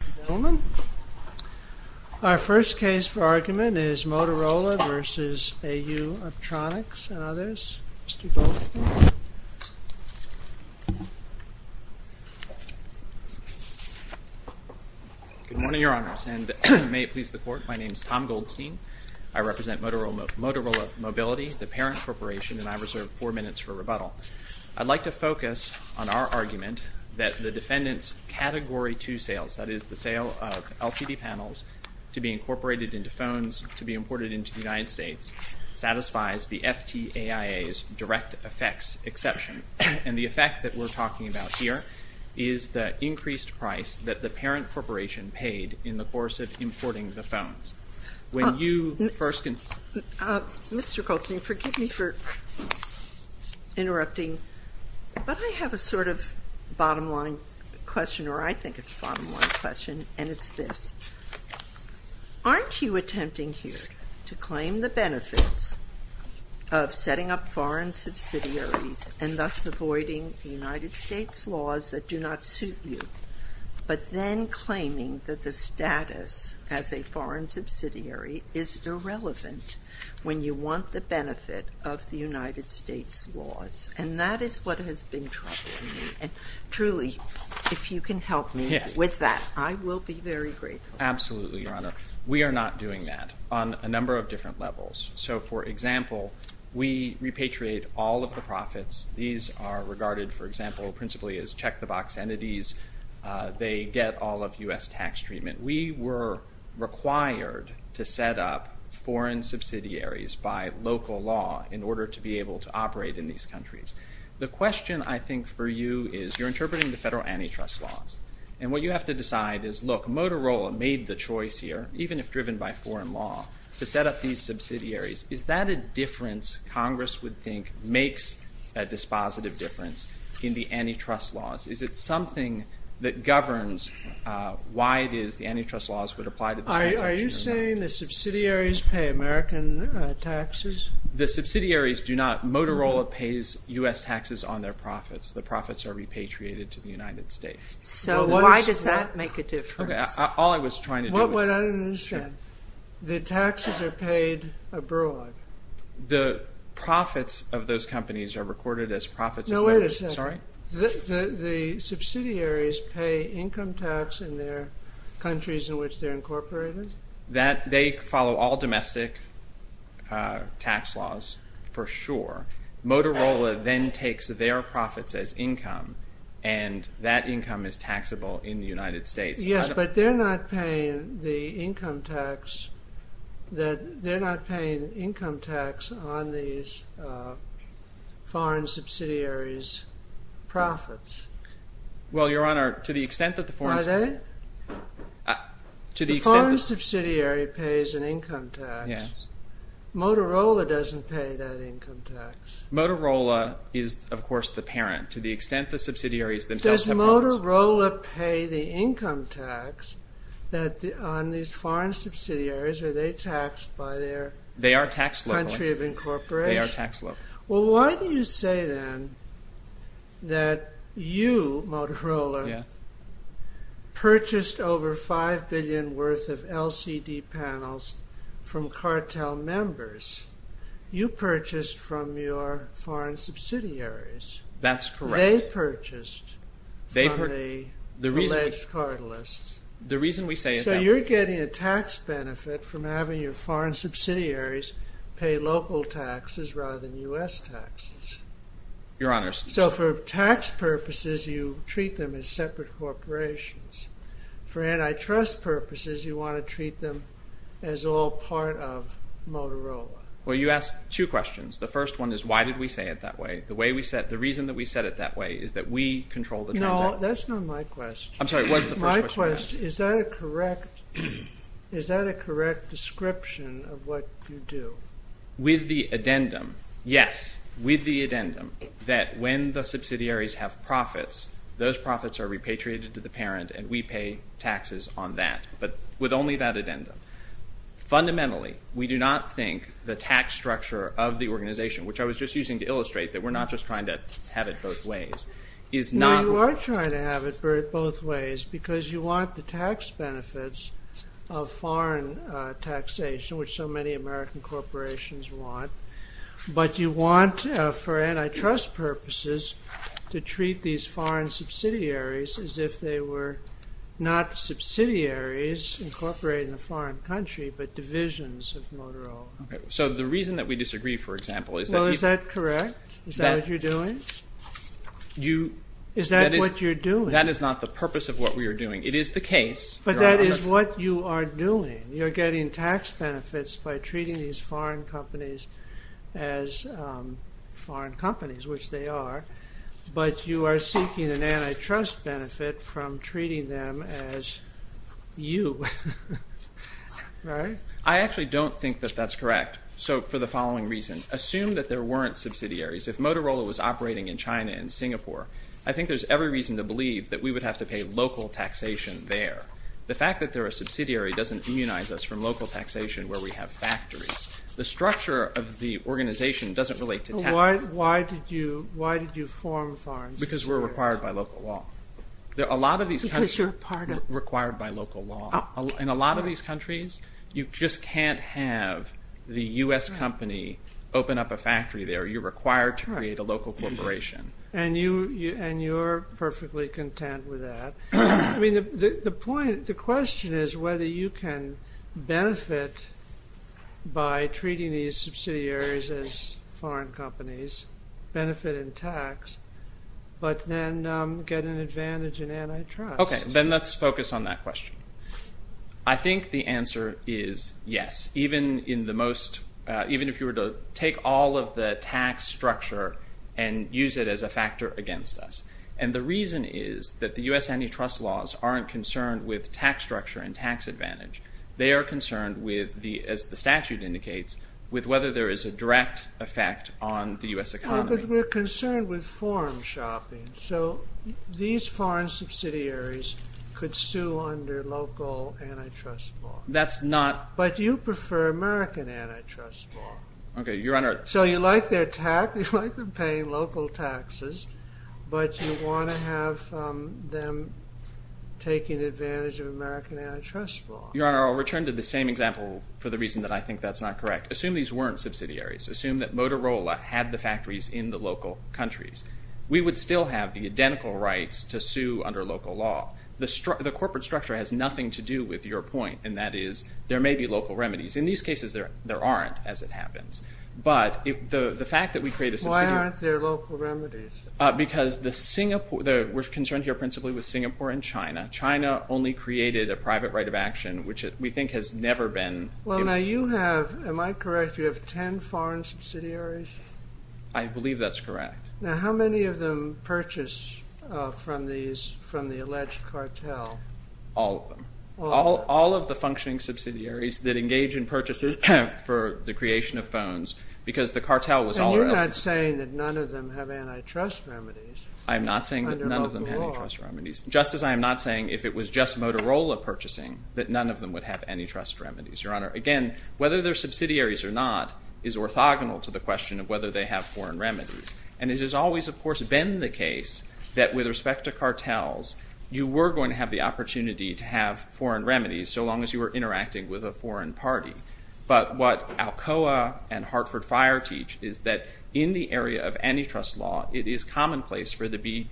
Ladies and gentlemen, our first case for argument is Motorola v. AU Optronics and others. Mr. Goldstein. Good morning, Your Honors, and may it please the Court, my name is Tom Goldstein. I represent Motorola Mobility, the parent corporation, and I reserve four minutes for rebuttal. I'd like to focus on our argument that the defendant's Category 2 sales, that is, the sale of LCD panels to be incorporated into phones to be imported into the United States, satisfies the FTAIA's direct effects exception. And the effect that we're talking about here is the increased price that the parent corporation paid in the course of importing the phones. Mr. Goldstein, forgive me for interrupting, but I have a sort of bottom line question, or I think it's a bottom line question, and it's this. Aren't you attempting here to claim the benefits of setting up foreign subsidiaries and thus avoiding the United States laws that do not suit you, but then claiming that the status as a foreign subsidiary is irrelevant when you want the benefit of the United States laws? And that is what has been troubling me, and truly, if you can help me with that, I will be very grateful. Absolutely, Your Honor. We are not doing that on a number of different levels. So, for example, we repatriate all of the profits. These are regarded, for example, principally as check-the-box entities. They get all of U.S. tax treatment. We were required to set up foreign subsidiaries by local law in order to be able to operate in these countries. The question, I think, for you is, you're interpreting the federal antitrust laws, and what you have to decide is, look, Motorola made the choice here, even if driven by foreign law, to set up these subsidiaries. Is that a difference Congress would think makes a dispositive difference in the antitrust laws? Is it something that governs why it is the antitrust laws would apply to this transaction? Are you saying the subsidiaries pay American taxes? The subsidiaries do not. Motorola pays U.S. taxes on their profits. The profits are repatriated to the United States. So why does that make a difference? All I was trying to do was... What I don't understand. The taxes are paid abroad. The profits of those companies are recorded as profits of... No, wait a second. Sorry? The subsidiaries pay income tax in their countries in which they're incorporated? They follow all domestic tax laws, for sure. Motorola then takes their profits as income, and that income is taxable in the United States. Yes, but they're not paying the income tax on these foreign subsidiaries' profits. Well, Your Honor, to the extent that the foreign... Are they? The foreign subsidiary pays an income tax. Motorola doesn't pay that income tax. Motorola is, of course, the parent. To the extent the subsidiaries themselves have... Does Motorola pay the income tax on these foreign subsidiaries, or are they taxed by their country of incorporation? They are taxed locally. They are taxed locally. Well, why do you say, then, that you, Motorola, purchased over $5 billion worth of LCD panels from cartel members? You purchased from your foreign subsidiaries. That's correct. They purchased from the alleged cartelists. The reason we say is that... Your Honor... So, for tax purposes, you treat them as separate corporations. For antitrust purposes, you want to treat them as all part of Motorola. Well, you ask two questions. The first one is, why did we say it that way? The reason that we said it that way is that we control the transit. No, that's not my question. I'm sorry, what is the first question? My question is, is that a correct description of what you do? With the addendum, yes, with the addendum, that when the subsidiaries have profits, those profits are repatriated to the parent and we pay taxes on that, but with only that addendum. Fundamentally, we do not think the tax structure of the organization, which I was just using to illustrate that we're not just trying to have it both ways, is not... No, you are trying to have it both ways because you want the tax benefits of foreign taxation, which so many American corporations want, but you want, for antitrust purposes, to treat these foreign subsidiaries as if they were not subsidiaries incorporated in a foreign country, but divisions of Motorola. Okay, so the reason that we disagree, for example, is that... Well, is that correct? Is that what you're doing? You... Is that what you're doing? That is not the purpose of what we are doing. It is the case... But that is what you are doing. You are getting tax benefits by treating these foreign companies as foreign companies, which they are, but you are seeking an antitrust benefit from treating them as you, right? I actually don't think that that's correct, so for the following reason. Assume that there weren't subsidiaries. If Motorola was operating in China and Singapore, I think there's every reason to believe that we would have to pay local taxation there. The fact that they're a subsidiary doesn't immunize us from local taxation where we have factories. The structure of the organization doesn't relate to tax. Why did you form foreign subsidiaries? Because we're required by local law. A lot of these countries... Because you're a part of... Required by local law. In a lot of these countries, you just can't have the U.S. company open up a factory there. You're required to create a local corporation. And you're perfectly content with that. The question is whether you can benefit by treating these subsidiaries as foreign companies, benefit in tax, but then get an advantage in antitrust. Okay, then let's focus on that question. I think the answer is yes, even if you were to take all of the tax structure and use it as a factor against us. And the reason is that the U.S. antitrust laws aren't concerned with tax structure and tax advantage. They are concerned with, as the statute indicates, with whether there is a direct effect on the U.S. economy. But we're concerned with foreign shopping. So these foreign subsidiaries could sue under local antitrust law. That's not... But you prefer American antitrust law. Okay, Your Honor... So you like their tax, you like them paying local taxes, but you want to have them taking advantage of American antitrust law. Your Honor, I'll return to the same example for the reason that I think that's not correct. Assume these weren't subsidiaries. Assume that Motorola had the factories in the local countries. We would still have the identical rights to sue under local law. The corporate structure has nothing to do with your point, and that is there may be local remedies. In these cases, there aren't, as it happens. But the fact that we create a subsidiary... Why aren't there local remedies? Because we're concerned here principally with Singapore and China. China only created a private right of action, which we think has never been... Well, now you have, am I correct, you have ten foreign subsidiaries? I believe that's correct. Now, how many of them purchase from the alleged cartel? All of them. All of the functioning subsidiaries that engage in purchases for the creation of phones because the cartel was all... And you're not saying that none of them have antitrust remedies under local law. I'm not saying that none of them have antitrust remedies, just as I am not saying if it was just Motorola purchasing that none of them would have antitrust remedies, Your Honor. Again, whether they're subsidiaries or not is orthogonal to the question of whether they have foreign remedies. And it has always, of course, been the case that with respect to cartels, you were going to have the opportunity to have foreign remedies so long as you were interacting with a foreign party. But what Alcoa and Hartford Fire teach is that in the area of antitrust law, it is commonplace for there to be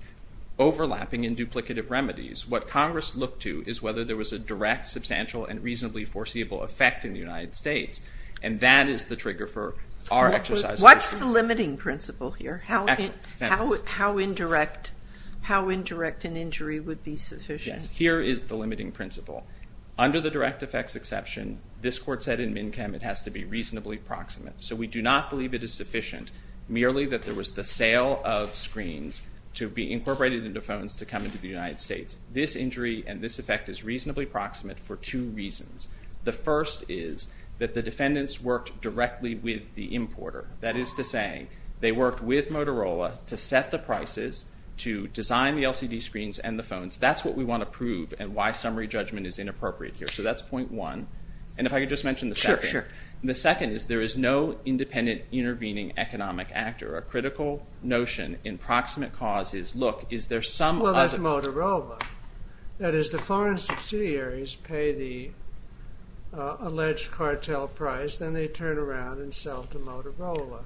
overlapping and duplicative remedies. What Congress looked to is whether there was a direct, substantial, and reasonably foreseeable effect in the United States. And that is the trigger for our exercise... What's the limiting principle here? How indirect an injury would be sufficient? Yes, here is the limiting principle. Under the direct effects exception, this court said in MNCHEM it has to be reasonably proximate. So we do not believe it is sufficient merely that there was the sale of screens to be incorporated into phones to come into the United States. This injury and this effect is reasonably proximate for two reasons. The first is that the defendants worked directly with the importer. That is to say, they worked with Motorola to set the prices to design the LCD screens and the phones. That's what we want to prove and why summary judgment is inappropriate here. So that's point one. And if I could just mention the second. Sure, sure. The second is there is no independent intervening economic actor. A critical notion in proximate cause is, look, is there some other... Well, that's Motorola. That is, the foreign subsidiaries pay the alleged cartel price, then they turn around and sell to Motorola.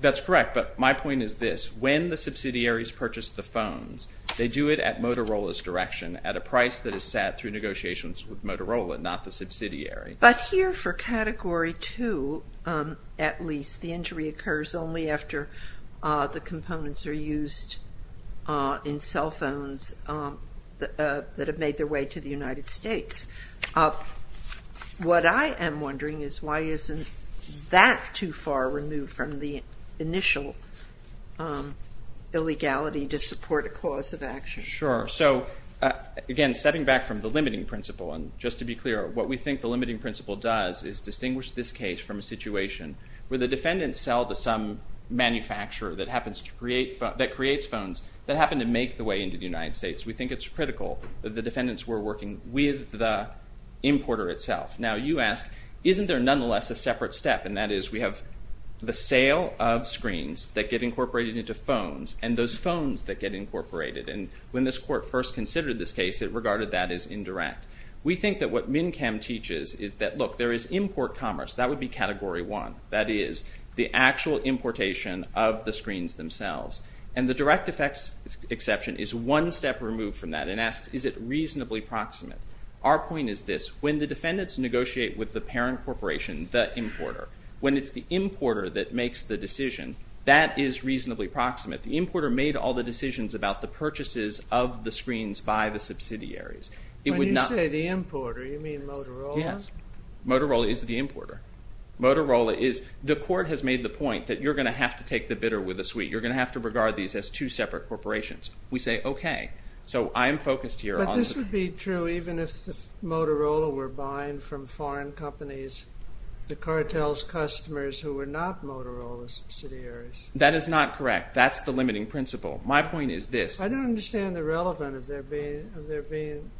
That's correct, but my point is this. When the subsidiaries purchase the phones, they do it at Motorola's direction at a price that is set through negotiations with Motorola, not the subsidiary. But here for category two, at least, the injury occurs only after the components are used in cell phones that have made their way to the United States. What I am wondering is why isn't that too far removed from the initial illegality to support a cause of action? Sure. So, again, stepping back from the limiting principle, and just to be clear, what we think the limiting principle does is distinguish this case from a situation where the defendants sell to some manufacturer that creates phones that happen to make their way into the United States. We think it's critical that the defendants were working with the importer itself. Now, you ask, isn't there nonetheless a separate step? And that is we have the sale of screens that get incorporated into phones and those phones that get incorporated. And when this court first considered this case, it regarded that as indirect. We think that what MINCAM teaches is that, look, there is import commerce. That would be category one. That is the actual importation of the screens themselves. And the direct effects exception is one step removed from that and asks, is it reasonably proximate? Our point is this. When the defendants negotiate with the parent corporation, the importer, when it's the importer that makes the decision, that is reasonably proximate. The importer made all the decisions about the purchases of the screens by the subsidiaries. It would not... When you say the importer, you mean Motorola? Yes. Motorola is the importer. Motorola is... The court has made the point that you're going to have to take the bidder with a sweet. You're going to have to regard these as two separate corporations. We say, okay. So I am focused here on... But this would be true even if Motorola were buying from foreign companies, the cartel's customers who were not Motorola's subsidiaries. That is not correct. That's the limiting principle. My point is this. I don't understand the relevance of there being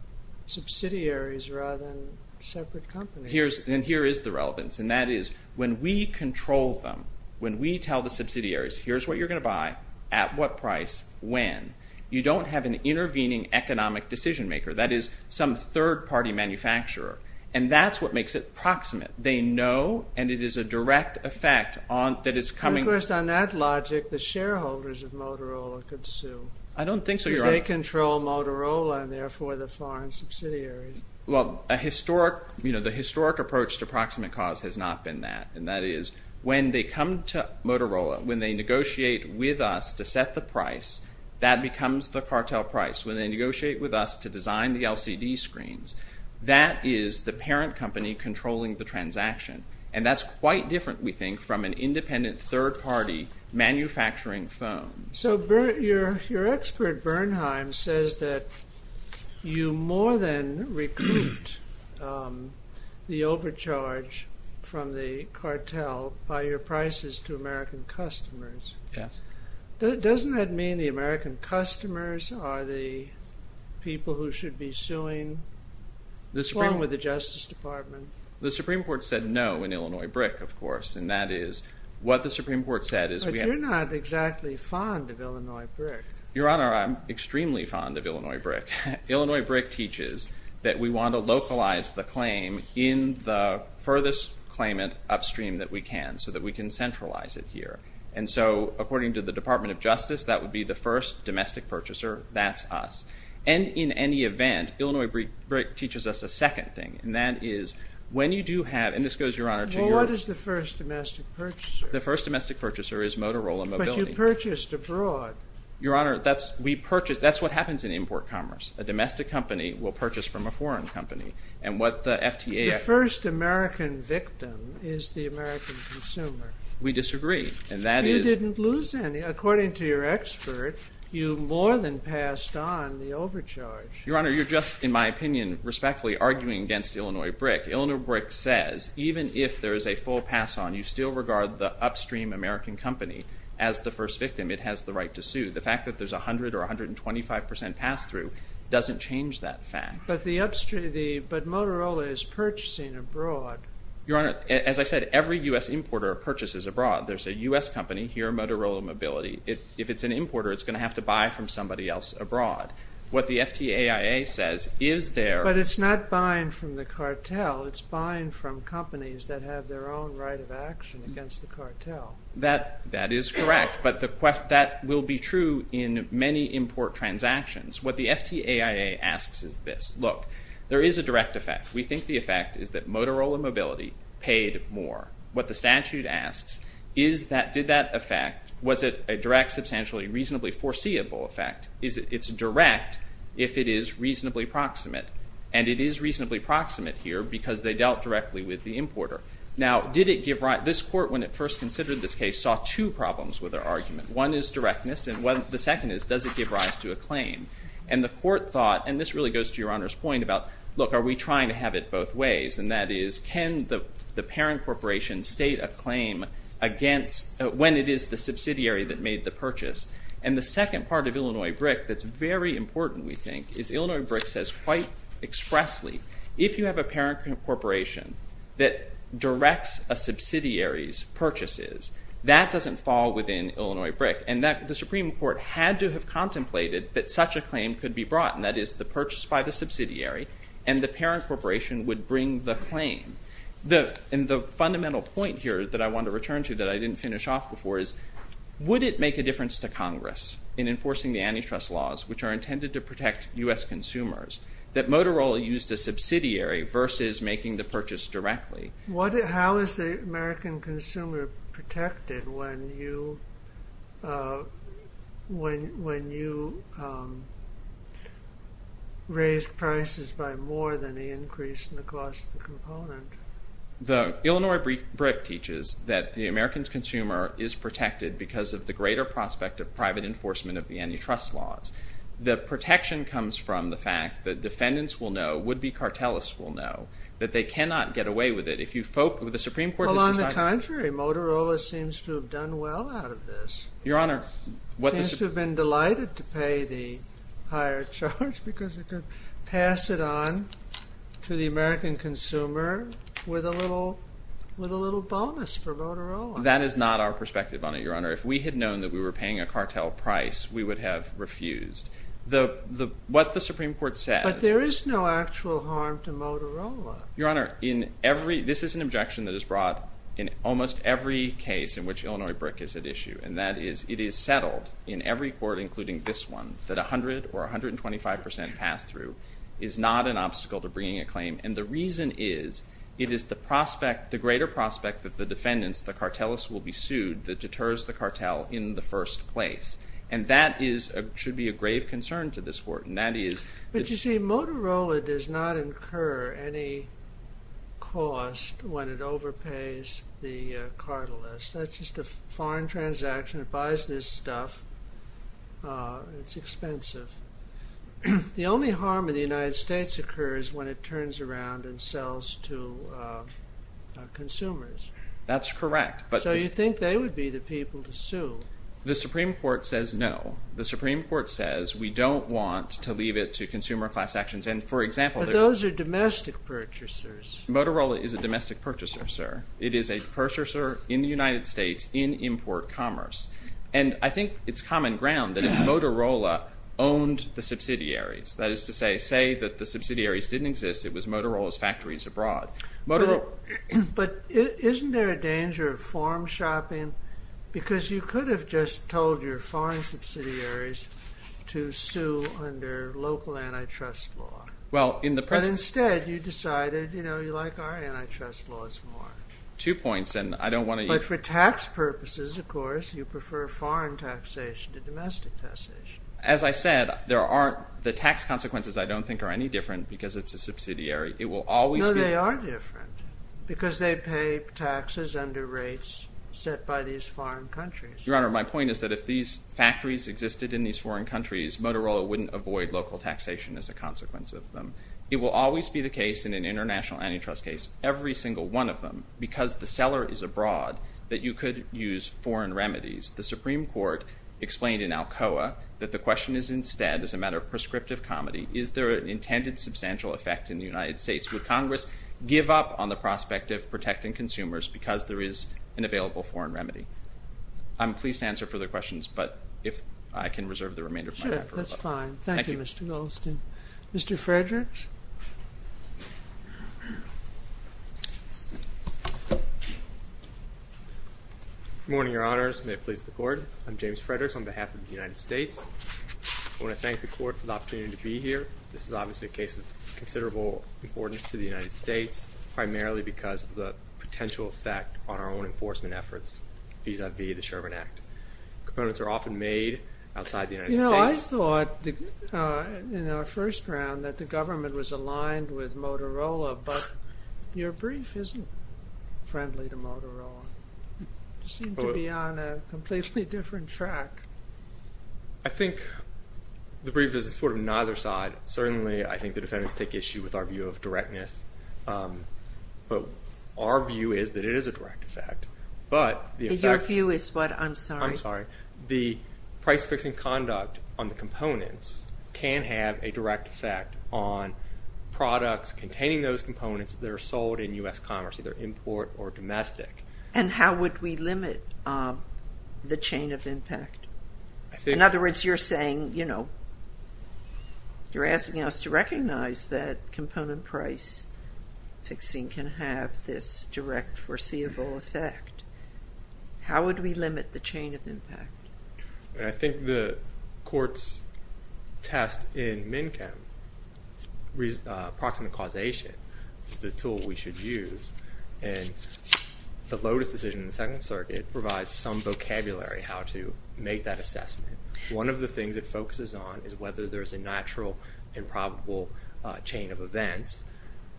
subsidiaries rather than separate companies. And here is the relevance. And that is when we control them, when we tell the subsidiaries, here's what you're going to buy, at what price, when, you don't have an intervening economic decision maker. That is some third-party manufacturer. And that's what makes it proximate. They know, and it is a direct effect that is coming... And, of course, on that logic, the shareholders of Motorola could sue. I don't think so, Your Honor. Because they control Motorola and, therefore, the foreign subsidiaries. Well, a historic, you know, the historic approach to proximate cause has not been that. And that is when they come to Motorola, when they negotiate with us to set the price, that becomes the cartel price. When they negotiate with us to design the LCD screens, that is the parent company controlling the transaction. And that's quite different, we think, from an independent third-party manufacturing firm. So your expert, Bernheim, says that you more than recruit the overcharge from the cartel by your prices to American customers. Yes. Doesn't that mean the American customers are the people who should be suing along with the Justice Department? The Supreme Court said no in Illinois BRIC, of course. And that is, what the Supreme Court said is... But you're not exactly fond of Illinois BRIC. Your Honor, I'm extremely fond of Illinois BRIC. Illinois BRIC teaches that we want to localize the claim in the furthest claimant upstream that we can so that we can centralize it here. And so, according to the Department of Justice, that would be the first domestic purchaser. That's us. And in any event, Illinois BRIC teaches us a second thing. And that is, when you do have... And this goes, Your Honor, to your... Well, what is the first domestic purchaser? The first domestic purchaser is Motorola Mobility. But you purchased abroad. Your Honor, that's what happens in import commerce. A domestic company will purchase from a foreign company. And what the FTA... The first American victim is the American consumer. We disagree. And that is... You didn't lose any. Your Honor, you're just, in my opinion, respectfully arguing against Illinois BRIC. Illinois BRIC says even if there is a full pass-on, you still regard the upstream American company as the first victim. It has the right to sue. The fact that there's 100% or 125% pass-through doesn't change that fact. But the upstream... But Motorola is purchasing abroad. Your Honor, as I said, every U.S. importer purchases abroad. There's a U.S. company here, Motorola Mobility. If it's an importer, it's going to have to buy from somebody else abroad. What the FTAIA says is there... But it's not buying from the cartel. It's buying from companies that have their own right of action against the cartel. That is correct. But that will be true in many import transactions. What the FTAIA asks is this. Look, there is a direct effect. We think the effect is that Motorola Mobility paid more. What the statute asks is that did that effect... Was it a direct, substantially, reasonably foreseeable effect? Is it direct if it is reasonably proximate? And it is reasonably proximate here because they dealt directly with the importer. Now, did it give rise... This court, when it first considered this case, saw two problems with their argument. One is directness. And the second is, does it give rise to a claim? And the court thought... And this really goes to Your Honor's point about, look, are we trying to have it both ways? And that is, can the parent corporation state a claim against... When it is the subsidiary that made the purchase. And the second part of Illinois BRIC that is very important, we think, is Illinois BRIC says quite expressly, if you have a parent corporation that directs a subsidiary's purchases, that doesn't fall within Illinois BRIC. And the Supreme Court had to have contemplated that such a claim could be brought. And that is the purchase by the subsidiary and the parent corporation would bring the claim. And the fundamental point here that I want to return to that I didn't finish off before is, would it make a difference to Congress in enforcing the antitrust laws, which are intended to protect U.S. consumers, that Motorola used a subsidiary versus making the purchase directly? How is the American consumer protected when you raise prices by more than the increase in the cost of the component? The Illinois BRIC teaches that the American consumer is protected because of the greater prospect of private enforcement of the antitrust laws. The protection comes from the fact that defendants will know, would-be cartelists will know, that they cannot get away with it. Well, on the contrary, Motorola seems to have done well out of this. It seems to have been delighted to pay the higher charge because it could pass it on to the American consumer with a little bonus for Motorola. That is not our perspective on it, Your Honor. If we had known that we were paying a cartel price, we would have refused. What the Supreme Court says... But there is no actual harm to Motorola. Your Honor, this is an objection that is brought in almost every case in which Illinois BRIC is at issue. And that is, it is settled in every court, including this one, that 100% or 125% pass-through is not an obstacle to bringing a claim. And the reason is, it is the greater prospect that the defendants, the cartelists, will be sued that deters the cartel in the first place. And that should be a grave concern to this Court. But you see, Motorola does not incur any cost when it overpays the cartelists. That is just a foreign transaction. It buys this stuff. It is expensive. The only harm in the United States occurs when it turns around and sells to consumers. That is correct. So you think they would be the people to sue? The Supreme Court says no. The Supreme Court says we do not want to leave it to consumer class actions. But those are domestic purchasers. Motorola is a domestic purchaser, sir. It is a purchaser in the United States in import commerce. And I think it's common ground that if Motorola owned the subsidiaries, that is to say, say that the subsidiaries didn't exist, it was Motorola's factories abroad. But isn't there a danger of form shopping? Because you could have just told your foreign subsidiaries to sue under local antitrust law. But instead you decided, you know, you like our antitrust laws more. Two points. But for tax purposes, of course, you prefer foreign taxation to domestic taxation. As I said, the tax consequences I don't think are any different because it is a subsidiary. No, they are different. Because they pay taxes under rates set by these foreign countries. Your Honor, my point is that if these factories existed in these foreign countries, Motorola wouldn't avoid local taxation as a consequence of them. It will always be the case in an international antitrust case, every single one of them, because the seller is abroad, that you could use foreign remedies. The Supreme Court explained in Alcoa that the question is instead, as a matter of prescriptive comedy, is there an intended substantial effect in the United States? Would Congress give up on the prospect of protecting consumers because there is an available foreign remedy? I'm pleased to answer further questions, but if I can reserve the remainder of my time. That's fine. Thank you, Mr. Goldstein. Mr. Frederick? Good morning, Your Honors. May it please the Court. I'm James Frederick on behalf of the United States. I want to thank the Court for the opportunity to be here. This is obviously a case of considerable importance to the United States, primarily because of the potential effect on our own enforcement efforts vis-à-vis the Sherman Act. Components are often made outside the United States. You know, I thought in our first round that the government was aligned with Motorola, but your brief isn't friendly to Motorola. You seem to be on a completely different track. I think the brief is sort of neither side. Certainly, I think the defendants take issue with our view of directness, but our view is that it is a direct effect. Your view is what? I'm sorry. I'm sorry. The price-fixing conduct on the components can have a direct effect on products containing those components that are sold in U.S. commerce, either import or domestic. And how would we limit the chain of impact? In other words, you're saying, you know, How would we limit the chain of impact? I think the court's test in MNKEM, approximate causation, is the tool we should use. And the Lotus decision in the Second Circuit provides some vocabulary how to make that assessment. One of the things it focuses on is whether there's a natural and probable chain of events.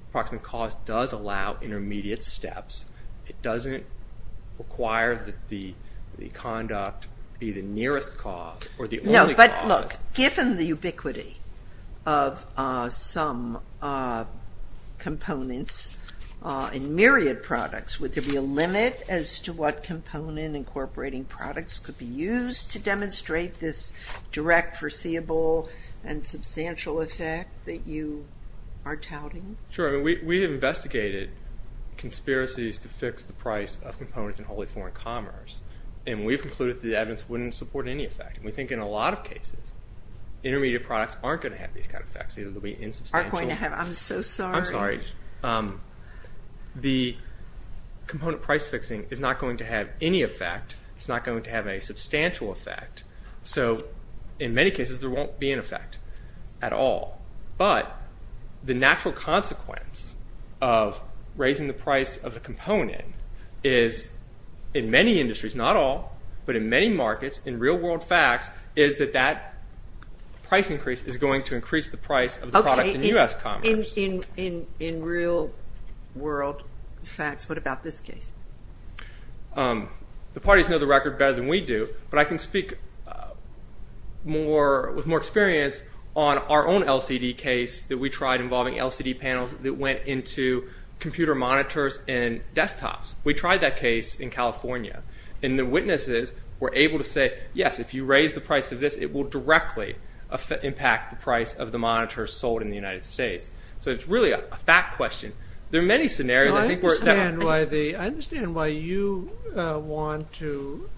Approximate cause does allow intermediate steps. It doesn't require that the conduct be the nearest cause or the only cause. No, but look, given the ubiquity of some components in myriad products, would there be a limit as to what component incorporating products could be used to demonstrate this direct, foreseeable, and substantial effect that you are touting? Sure. We have investigated conspiracies to fix the price of components in wholly foreign commerce. And we've concluded that the evidence wouldn't support any effect. We think in a lot of cases, intermediate products aren't going to have these kind of effects. They'll be insubstantial. Aren't going to have. I'm so sorry. I'm sorry. The component price-fixing is not going to have any effect. It's not going to have a substantial effect. So in many cases, there won't be an effect at all. But the natural consequence of raising the price of a component is, in many industries, not all, but in many markets, in real-world facts, is that that price increase is going to increase the price of the products in U.S. commerce. In real-world facts, what about this case? The parties know the record better than we do, but I can speak with more experience on our own LCD case that we tried involving LCD panels that went into computer monitors and desktops. We tried that case in California. And the witnesses were able to say, yes, if you raise the price of this, it will directly impact the price of the monitors sold in the United States. So it's really a fact question. I understand why you want to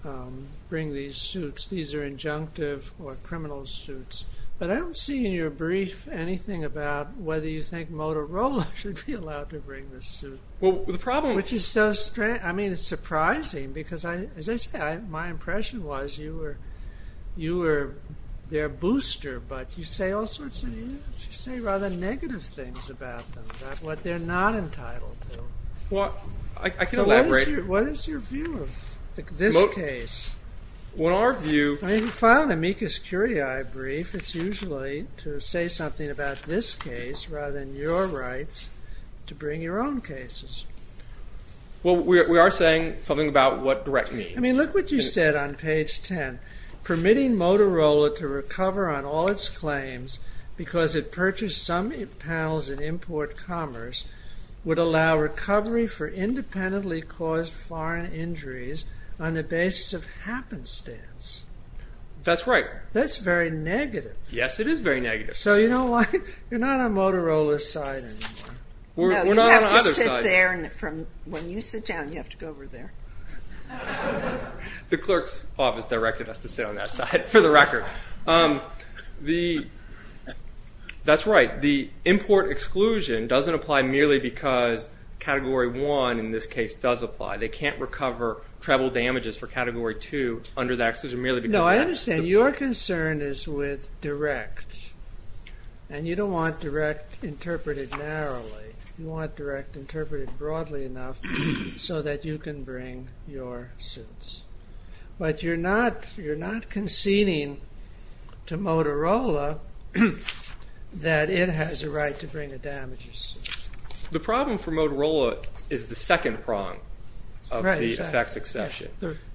bring these suits. These are injunctive or criminal suits. But I don't see in your brief anything about whether you think Motorola should be allowed to bring this suit. Which is so strange. I mean, it's surprising because, as I said, my impression was you were their booster. But you say all sorts of things. You say rather negative things about them, about what they're not entitled to. Well, I can elaborate. What is your view of this case? Well, our view... When you file an amicus curiae brief, it's usually to say something about this case rather than your rights to bring your own cases. Well, we are saying something about what direct means. I mean, look what you said on page 10. Permitting Motorola to recover on all its claims because it purchased some panels in import commerce would allow recovery for independently caused foreign injuries on the basis of happenstance. That's right. That's very negative. Yes, it is very negative. So you know what? You're not on Motorola's side anymore. No, you have to sit there. When you sit down, you have to go over there. The clerk's office directed us to sit on that side, for the record. That's right. The import exclusion doesn't apply merely because Category 1 in this case does apply. They can't recover treble damages for Category 2 under that exclusion merely because... No, I understand. Your concern is with direct. And you don't want direct interpreted narrowly. You want direct interpreted broadly enough so that you can bring your suits. But you're not conceding to Motorola that it has a right to bring the damages. The problem for Motorola is the second prong of the effects exception.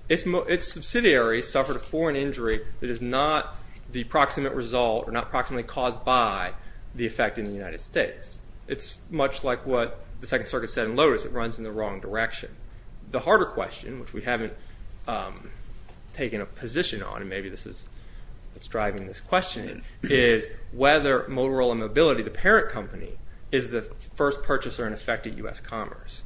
Its subsidiaries suffered a foreign injury that is not the proximate result or not proximately caused by the effect in the United States. It's much like what the Second Circuit said in Lotus. It runs in the wrong direction. The harder question, which we haven't taken a position on, and maybe this is what's driving this questioning, is whether Motorola Mobility, the parent company, is the first purchaser in effect at U.S. Commerce,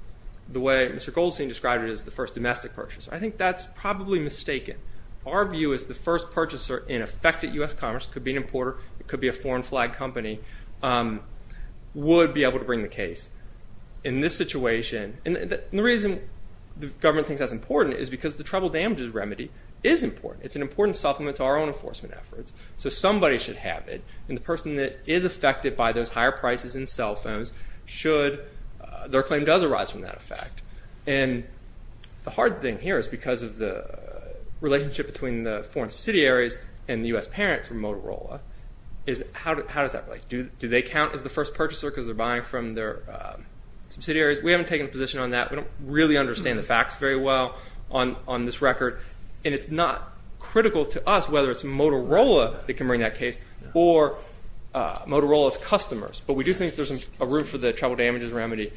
the way Mr. Goldstein described it as the first domestic purchaser. I think that's probably mistaken. Our view is the first purchaser in effect at U.S. Commerce could be an importer, it could be a foreign flag company, would be able to bring the case. In this situation, and the reason the government thinks that's important is because the travel damages remedy is important. It's an important supplement to our own enforcement efforts. So somebody should have it. And the person that is affected by those higher prices in cell phones should, their claim does arise from that effect. And the hard thing here is because of the relationship between the foreign subsidiaries and the U.S. parent from Motorola, is how does that relate? Do they count as the first purchaser because they're buying from their subsidiaries? We haven't taken a position on that. We don't really understand the facts very well on this record. And it's not critical to us whether it's Motorola that can bring that case or Motorola's customers. But we do think there's a root for the travel damages remedy.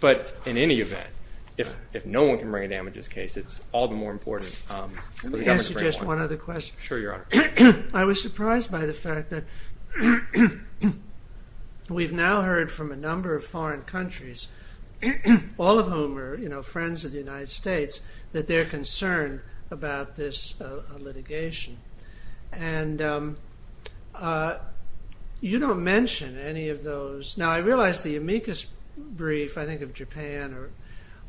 But in any event, if no one can bring a damages case, it's all the more important for the government to bring one. Let me answer just one other question. Sure, Your Honor. I was surprised by the fact that we've now heard from a number of foreign countries, all of whom are friends of the United States, that they're concerned about this litigation. And you don't mention any of those. Now, I realize the amicus brief, I think, of Japan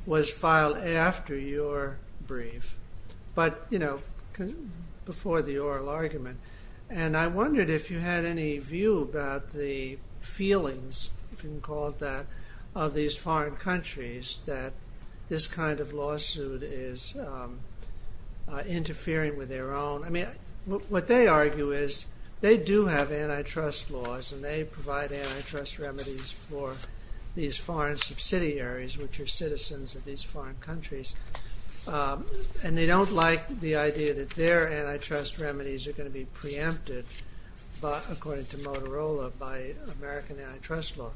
was filed after your brief, but, you know, before the oral argument. And I wondered if you had any view about the feelings, if you can call it that, of these foreign countries that this kind of lawsuit is interfering with their own. I mean, what they argue is they do have antitrust laws and they provide antitrust remedies for these foreign subsidiaries, which are citizens of these foreign countries. And they don't like the idea that their antitrust remedies are going to be preempted, according to Motorola, by American antitrust law.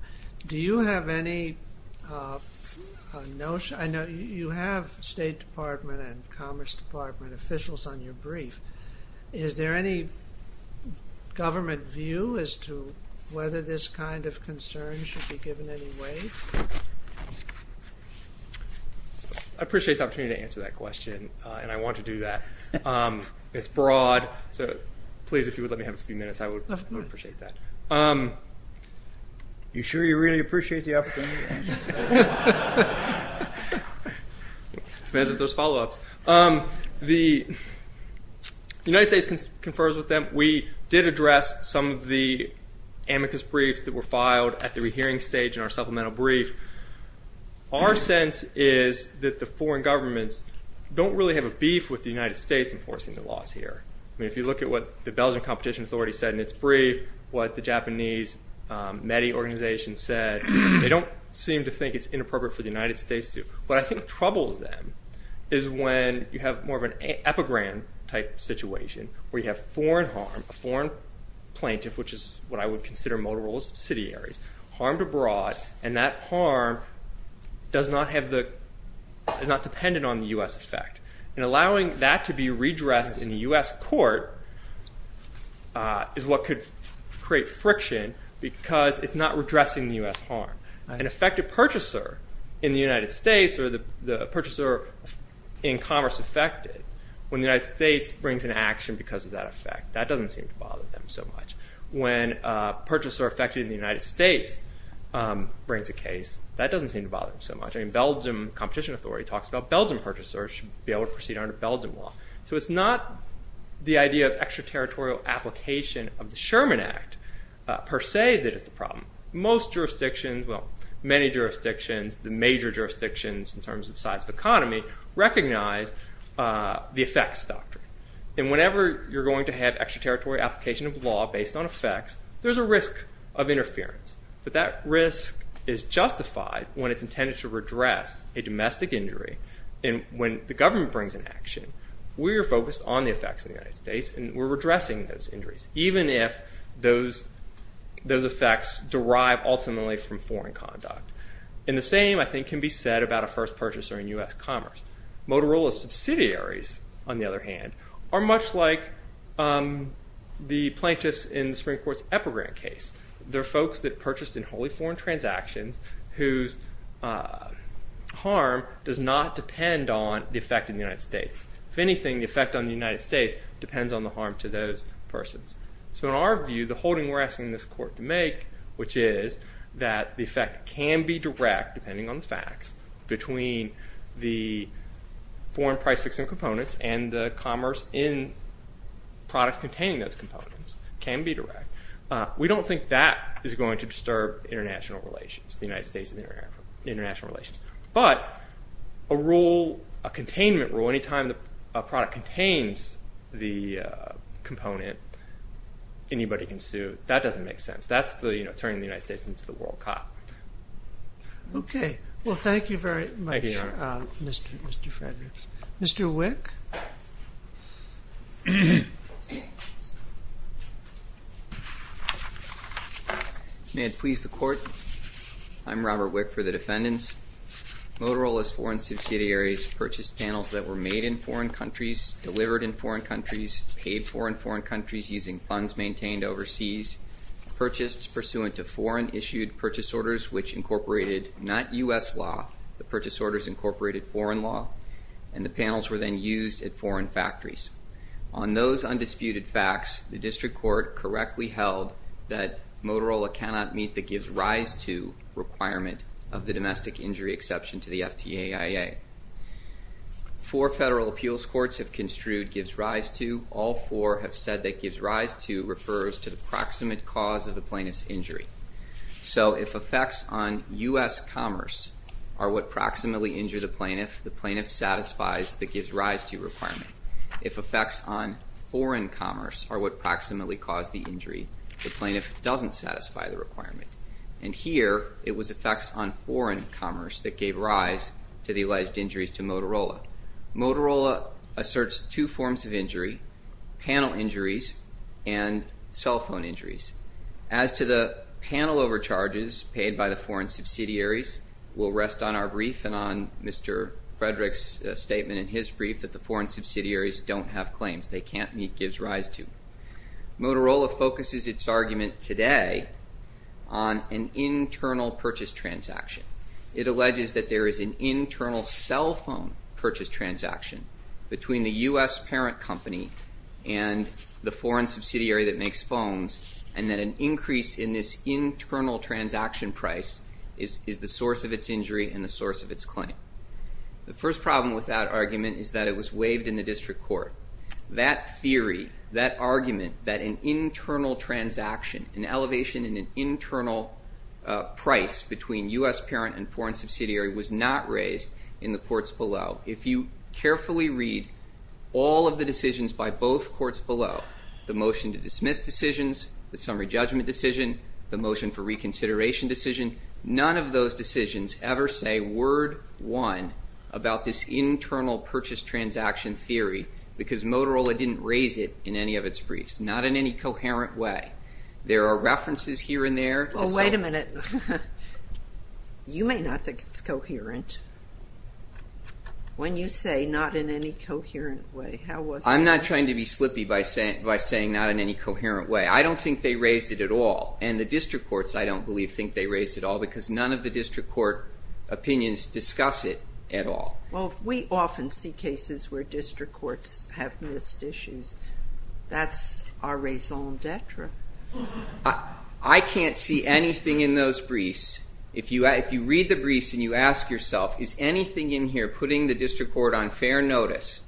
Do you have any notion? I know you have State Department and Commerce Department officials on your brief. Is there any government view as to whether this kind of concern should be given any weight? I appreciate the opportunity to answer that question, and I want to do that. It's broad, so please, if you would let me have a few minutes, I would appreciate that. You sure you really appreciate the opportunity? It depends if there's follow-ups. The United States confers with them. We did address some of the amicus briefs that were filed at the rehearing stage in our supplemental brief. Our sense is that the foreign governments don't really have a beef with the United States enforcing the laws here. I mean, if you look at what the Belgian Competition Authority said in its brief, what the Japanese METI organization said, they don't seem to think it's inappropriate for the United States to. What I think troubles them is when you have more of an epigram-type situation, where you have foreign harm, a foreign plaintiff, which is what I would consider Motorola's subsidiaries, harmed abroad, and that harm is not dependent on the U.S. effect. And allowing that to be redressed in the U.S. court is what could create friction, because it's not redressing the U.S. harm. An affected purchaser in the United States, or the purchaser in commerce affected, when the United States brings an action because of that effect, that doesn't seem to bother them so much. When a purchaser affected in the United States brings a case, that doesn't seem to bother them so much. And the Belgian Competition Authority talks about Belgian purchasers should be able to proceed under Belgian law. So it's not the idea of extraterritorial application of the Sherman Act, per se, that is the problem. Most jurisdictions, well, many jurisdictions, the major jurisdictions in terms of size of economy, recognize the effects doctrine. And whenever you're going to have extraterritorial application of law based on effects, there's a risk of interference. But that risk is justified when it's intended to redress a domestic injury. And when the government brings an action, we are focused on the effects of the United States, and we're redressing those injuries, even if those effects derive ultimately from foreign conduct. And the same, I think, can be said about a first purchaser in U.S. commerce. Motorola subsidiaries, on the other hand, are much like the plaintiffs in the Supreme Court's Epigram case. They're folks that purchased in wholly foreign transactions whose harm does not depend on the effect in the United States. If anything, the effect on the United States depends on the harm to those persons. So in our view, the holding we're asking this court to make, which is that the effect can be direct, depending on the facts, between the foreign price fixing components and the commerce in products containing those components can be direct. We don't think that is going to disturb international relations, the United States' international relations. But a rule, a containment rule, any time a product contains the component, anybody can sue. That doesn't make sense. That's turning the United States into the world cop. Okay. Well, thank you very much, Mr. Fredericks. Mr. Wick. May it please the Court, I'm Robert Wick for the defendants. Motorola's foreign subsidiaries purchased panels that were made in foreign countries, delivered in foreign countries, paid for in foreign countries using funds maintained overseas, purchased pursuant to foreign-issued purchase orders which incorporated not U.S. law, the purchase orders incorporated foreign law, and the panels were then used at foreign factories. On those undisputed facts, the district court correctly held that Motorola cannot meet the gives rise to requirement of the domestic injury exception to the FTAIA. Four federal appeals courts have construed gives rise to. All four have said that gives rise to refers to the proximate cause of the plaintiff's injury. So if effects on U.S. commerce are what proximately injure the plaintiff, the plaintiff satisfies the gives rise to requirement. If effects on foreign commerce are what proximately cause the injury, the plaintiff doesn't satisfy the requirement. And here it was effects on foreign commerce that gave rise to the alleged injuries to Motorola. Motorola asserts two forms of injury, panel injuries and cell phone injuries. As to the panel overcharges paid by the foreign subsidiaries will rest on our brief and on Mr. Frederick's statement in his brief that the foreign subsidiaries don't have claims. They can't meet gives rise to. Motorola focuses its argument today on an internal purchase transaction. It alleges that there is an internal cell phone purchase transaction between the U.S. parent company and the foreign subsidiary that makes phones and that an increase in this internal transaction price is the source of its injury and the source of its claim. The first problem with that argument is that it was waived in the district court. That theory, that argument that an internal transaction, an elevation in an internal price between U.S. parent and foreign subsidiary was not raised in the courts below. If you carefully read all of the decisions by both courts below, the motion to dismiss decisions, the summary judgment decision, the motion for reconsideration decision, none of those decisions ever say word one about this internal purchase transaction theory because Motorola didn't raise it in any of its briefs, not in any coherent way. There are references here and there. Well, wait a minute. You may not think it's coherent when you say not in any coherent way. How was that? I'm not trying to be slippy by saying not in any coherent way. I don't think they raised it at all, and the district courts, I don't believe, think they raised it at all because none of the district court opinions discuss it at all. Well, we often see cases where district courts have missed issues. That's our raison d'etre. I can't see anything in those briefs. If you read the briefs and you ask yourself is anything in here putting the district court on fair notice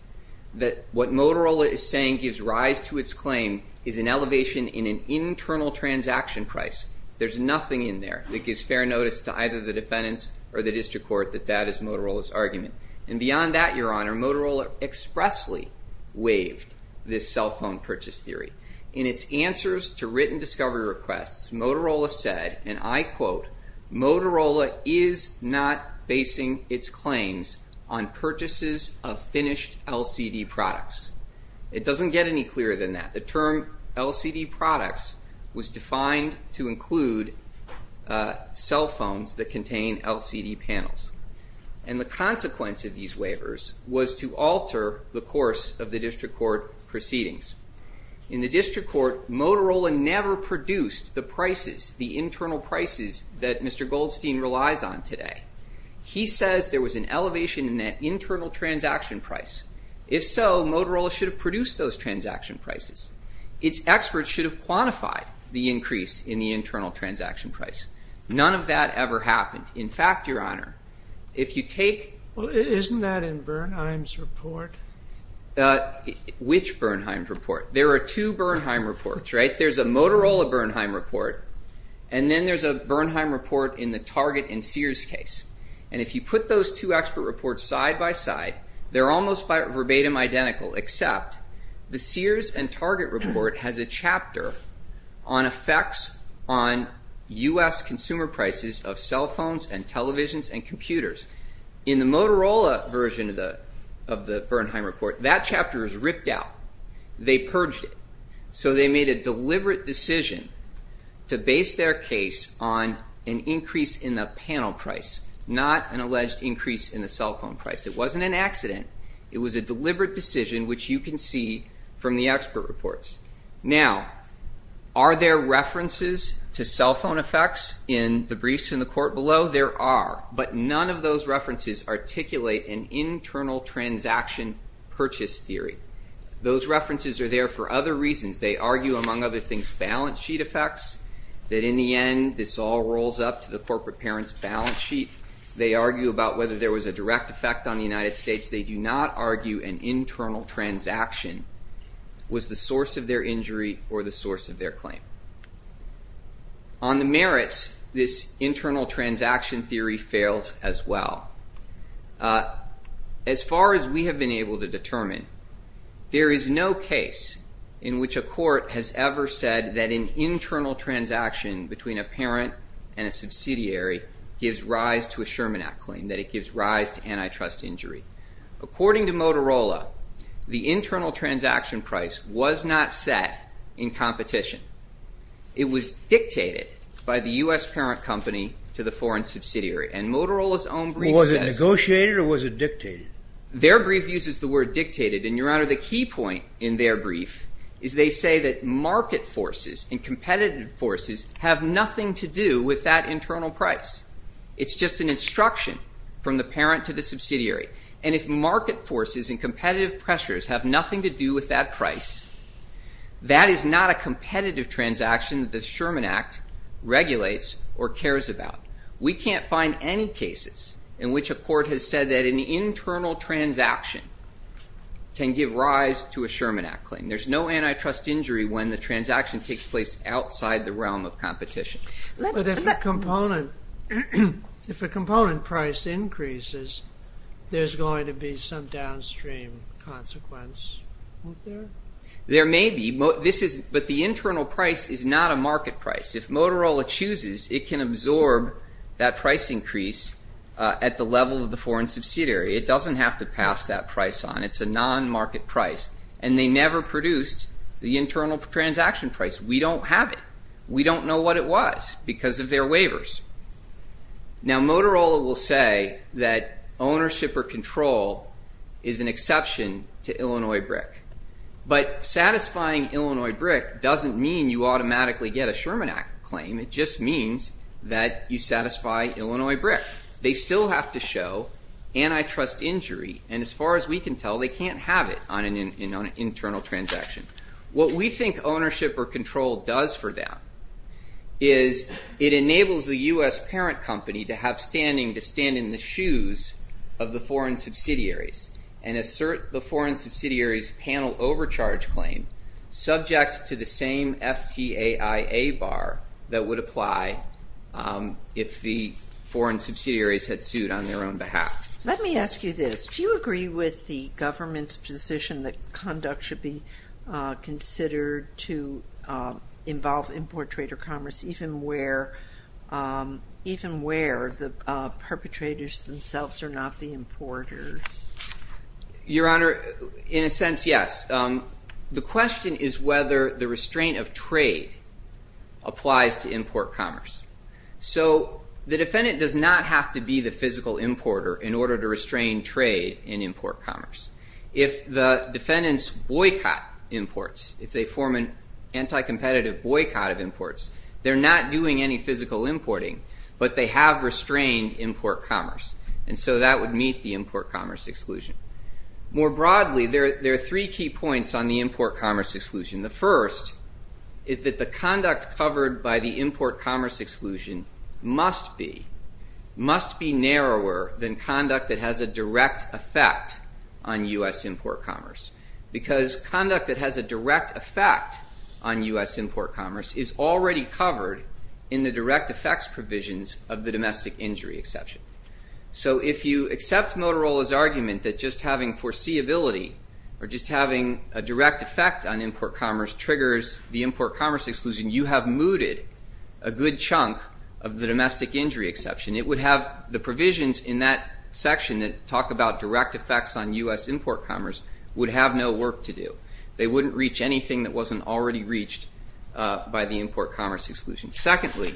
that what Motorola is saying gives rise to its claim is an elevation in an internal transaction price, there's nothing in there that gives fair notice to either the defendants or the district court that that is Motorola's argument. And beyond that, Your Honor, Motorola expressly waived this cell phone purchase theory. In its answers to written discovery requests, Motorola said, and I quote, Motorola is not basing its claims on purchases of finished LCD products. It doesn't get any clearer than that. The term LCD products was defined to include cell phones that contain LCD panels. And the consequence of these waivers was to alter the course of the district court proceedings. In the district court, Motorola never produced the prices, the internal prices, that Mr. Goldstein relies on today. He says there was an elevation in that internal transaction price. If so, Motorola should have produced those transaction prices. Its experts should have quantified the increase in the internal transaction price. None of that ever happened. In fact, Your Honor, if you take- Well, isn't that in Bernheim's report? Which Bernheim report? There are two Bernheim reports, right? There's a Motorola Bernheim report, and then there's a Bernheim report in the Target and Sears case. And if you put those two expert reports side by side, they're almost verbatim identical, except the Sears and Target report has a chapter on effects on U.S. consumer prices of cell phones and televisions and computers. In the Motorola version of the Bernheim report, that chapter is ripped out. They purged it. So they made a deliberate decision to base their case on an increase in the panel price, not an alleged increase in the cell phone price. It wasn't an accident. It was a deliberate decision, which you can see from the expert reports. Now, are there references to cell phone effects in the briefs in the court below? No, there are. But none of those references articulate an internal transaction purchase theory. Those references are there for other reasons. They argue, among other things, balance sheet effects, that in the end this all rolls up to the corporate parent's balance sheet. They argue about whether there was a direct effect on the United States. They do not argue an internal transaction was the source of their injury or the source of their claim. On the merits, this internal transaction theory fails as well. As far as we have been able to determine, there is no case in which a court has ever said that an internal transaction between a parent and a subsidiary gives rise to a Sherman Act claim, that it gives rise to antitrust injury. According to Motorola, the internal transaction price was not set in competition. It was dictated by the U.S. parent company to the foreign subsidiary. And Motorola's own brief says... Was it negotiated or was it dictated? Their brief uses the word dictated. And, Your Honor, the key point in their brief is they say that market forces and competitive forces have nothing to do with that internal price. It's just an instruction from the parent to the subsidiary. And if market forces and competitive pressures have nothing to do with that price, that is not a competitive transaction that the Sherman Act regulates or cares about. We can't find any cases in which a court has said that an internal transaction can give rise to a Sherman Act claim. There's no antitrust injury when the transaction takes place outside the realm of competition. But if a component price increases, there's going to be some downstream consequence, isn't there? There may be. But the internal price is not a market price. If Motorola chooses, it can absorb that price increase at the level of the foreign subsidiary. It doesn't have to pass that price on. It's a non-market price. And they never produced the internal transaction price. We don't have it. We don't know what it was because of their waivers. Now, Motorola will say that ownership or control is an exception to Illinois BRIC. But satisfying Illinois BRIC doesn't mean you automatically get a Sherman Act claim. It just means that you satisfy Illinois BRIC. They still have to show antitrust injury. And as far as we can tell, they can't have it on an internal transaction. What we think ownership or control does for them is it enables the U.S. parent company to have standing, to stand in the shoes of the foreign subsidiaries and assert the foreign subsidiaries' panel overcharge claim subject to the same FTAIA bar that would apply if the foreign subsidiaries had sued on their own behalf. Let me ask you this. Do you agree with the government's position that conduct should be considered to involve import trade or commerce, even where the perpetrators themselves are not the importers? Your Honor, in a sense, yes. The question is whether the restraint of trade applies to import commerce. So the defendant does not have to be the physical importer in order to restrain trade in import commerce. If the defendants boycott imports, if they form an anti-competitive boycott of imports, they're not doing any physical importing, but they have restrained import commerce. And so that would meet the import commerce exclusion. More broadly, there are three key points on the import commerce exclusion. The first is that the conduct covered by the import commerce exclusion must be narrower than conduct that has a direct effect on U.S. import commerce because conduct that has a direct effect on U.S. import commerce is already covered in the direct effects provisions of the domestic injury exception. So if you accept Motorola's argument that just having foreseeability or just having a direct effect on import commerce triggers the import commerce exclusion, you have mooted a good chunk of the domestic injury exception. It would have the provisions in that section that talk about direct effects on U.S. import commerce would have no work to do. They wouldn't reach anything that wasn't already reached by the import commerce exclusion. Secondly,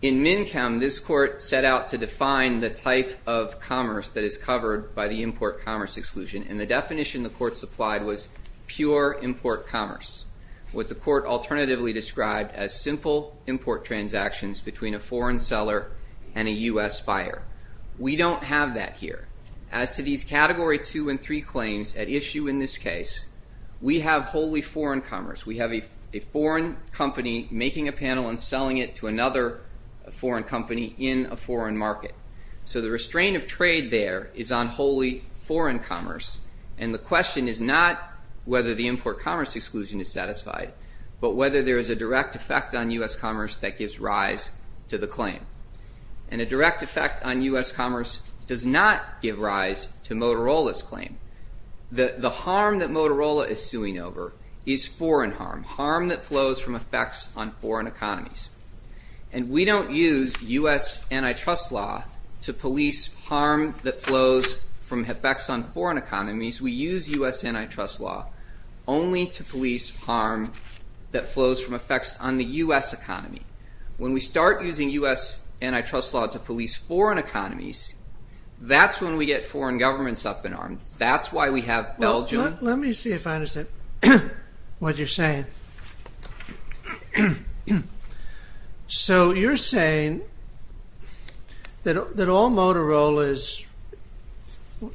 in MNCM, this court set out to define the type of commerce that is covered by the import commerce exclusion, and the definition the court supplied was pure import commerce, what the court alternatively described as simple import transactions between a foreign seller and a U.S. buyer. We don't have that here. As to these Category 2 and 3 claims at issue in this case, we have wholly foreign commerce. We have a foreign company making a panel and selling it to another foreign company in a foreign market. So the restraint of trade there is on wholly foreign commerce, and the question is not whether the import commerce exclusion is satisfied, but whether there is a direct effect on U.S. commerce that gives rise to the claim. And a direct effect on U.S. commerce does not give rise to Motorola's claim. The harm that Motorola is suing over is foreign harm, harm that flows from effects on foreign economies. And we don't use U.S. antitrust law to police harm that flows from effects on foreign economies. We use U.S. antitrust law only to police harm that flows from effects on the U.S. economy. When we start using U.S. antitrust law to police foreign economies, that's when we get foreign governments up in arms. That's why we have Belgium. Let me see if I understand what you're saying. So you're saying that all Motorola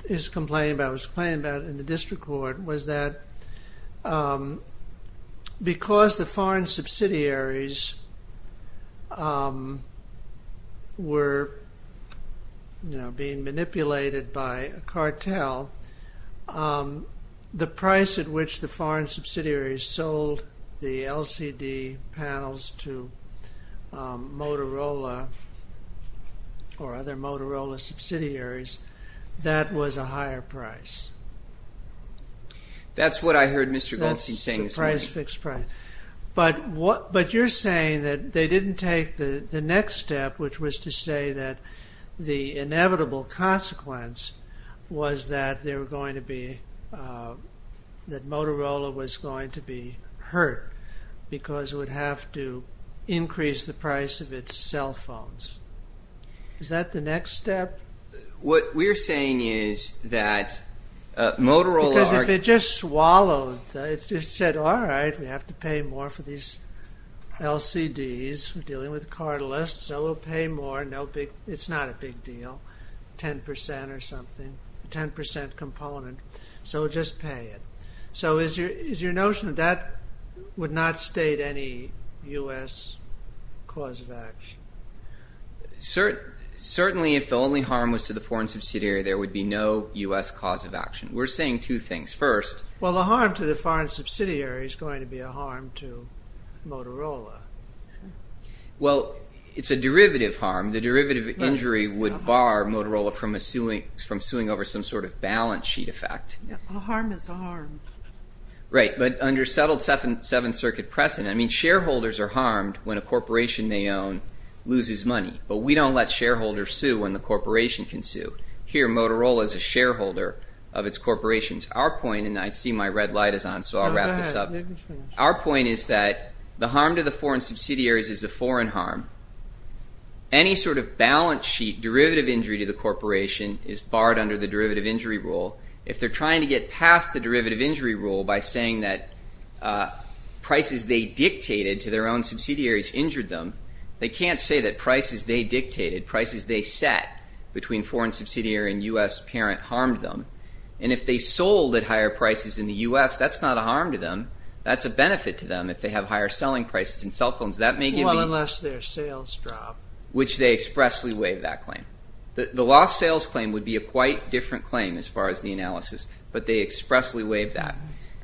is complaining about, in the district court, was that because the foreign subsidiaries were being manipulated by a cartel, the price at which the foreign subsidiaries sold the LCD panels to Motorola or other Motorola subsidiaries, that was a higher price? That's what I heard Mr. Goldstein saying. So price fixed price. But you're saying that they didn't take the next step, which was to say that the inevitable consequence was that Motorola was going to be hurt because it would have to increase the price of its cell phones. Is that the next step? What we're saying is that Motorola... Because if it just swallowed, it just said, all right, we have to pay more for these LCDs, we're dealing with cartelists, so we'll pay more, it's not a big deal, 10% or something, 10% component, so we'll just pay it. So is your notion that that would not state any U.S. cause of action? Certainly, if the only harm was to the foreign subsidiary, there would be no U.S. cause of action. We're saying two things. First... Well, the harm to the foreign subsidiary is going to be a harm to Motorola. Well, it's a derivative harm. The derivative injury would bar Motorola from suing over some sort of balance sheet effect. A harm is a harm. Right, but under settled Seventh Circuit precedent, shareholders are harmed when a corporation they own loses money, but we don't let shareholders sue when the corporation can sue. Here, Motorola is a shareholder of its corporations. Our point, and I see my red light is on, so I'll wrap this up. Our point is that the harm to the foreign subsidiaries is a foreign harm. Any sort of balance sheet derivative injury to the corporation is barred under the derivative injury rule. If they're trying to get past the derivative injury rule by saying that prices they dictated to their own subsidiaries injured them, they can't say that prices they dictated, prices they set between foreign subsidiary and U.S. parent harmed them. And if they sold at higher prices in the U.S., that's not a harm to them. That's a benefit to them if they have higher selling prices in cell phones. Well, unless their sales drop. Which they expressly waive that claim. The lost sales claim would be a quite different claim as far as the analysis, but they expressly waive that.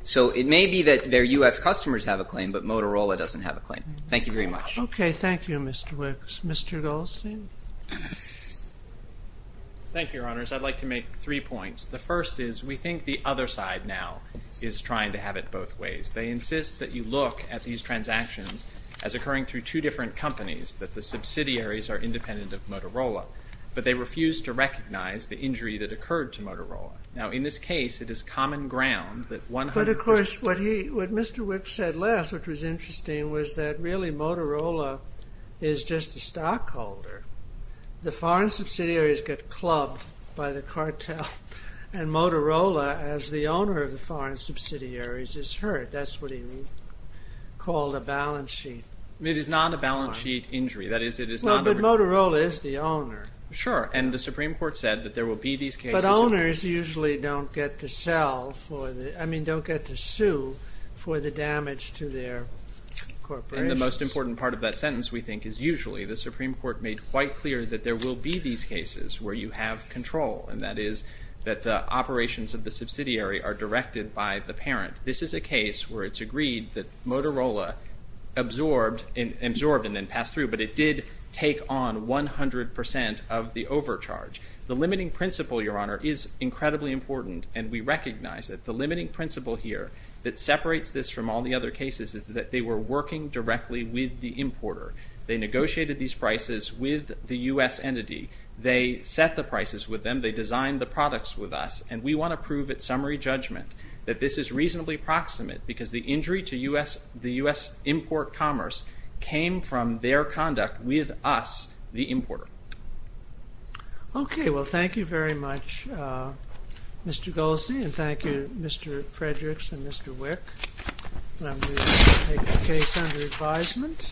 So it may be that their U.S. customers have a claim, but Motorola doesn't have a claim. Thank you very much. Okay. Thank you, Mr. Wicks. Mr. Goldstein? Thank you, Your Honors. I'd like to make three points. The first is we think the other side now is trying to have it both ways. They insist that you look at these transactions as occurring through two different companies, that the subsidiaries are independent of Motorola, but they refuse to recognize the injury that occurred to Motorola. Now, in this case, it is common ground that 100% But, of course, what Mr. Wicks said last, which was interesting, was that really Motorola is just a stockholder. The foreign subsidiaries get clubbed by the cartel, and Motorola, as the owner of the foreign subsidiaries, is hurt. That's what he called a balance sheet. It is not a balance sheet injury. Well, but Motorola is the owner. Sure. And the Supreme Court said that there will be these cases. But owners usually don't get to sue for the damage to their corporations. And the most important part of that sentence, we think, is usually. The Supreme Court made quite clear that there will be these cases where you have control, This is a case where it's agreed that Motorola absorbed and then passed through. But it did take on 100% of the overcharge. The limiting principle, Your Honor, is incredibly important. And we recognize that the limiting principle here that separates this from all the other cases is that they were working directly with the importer. They negotiated these prices with the U.S. entity. They set the prices with them. They designed the products with us. And we want to prove at summary judgment that this is reasonably proximate because the injury to the U.S. import commerce came from their conduct with us, the importer. Okay. Well, thank you very much, Mr. Goldstein. And thank you, Mr. Fredericks and Mr. Wick. And I'm going to take the case under advisement.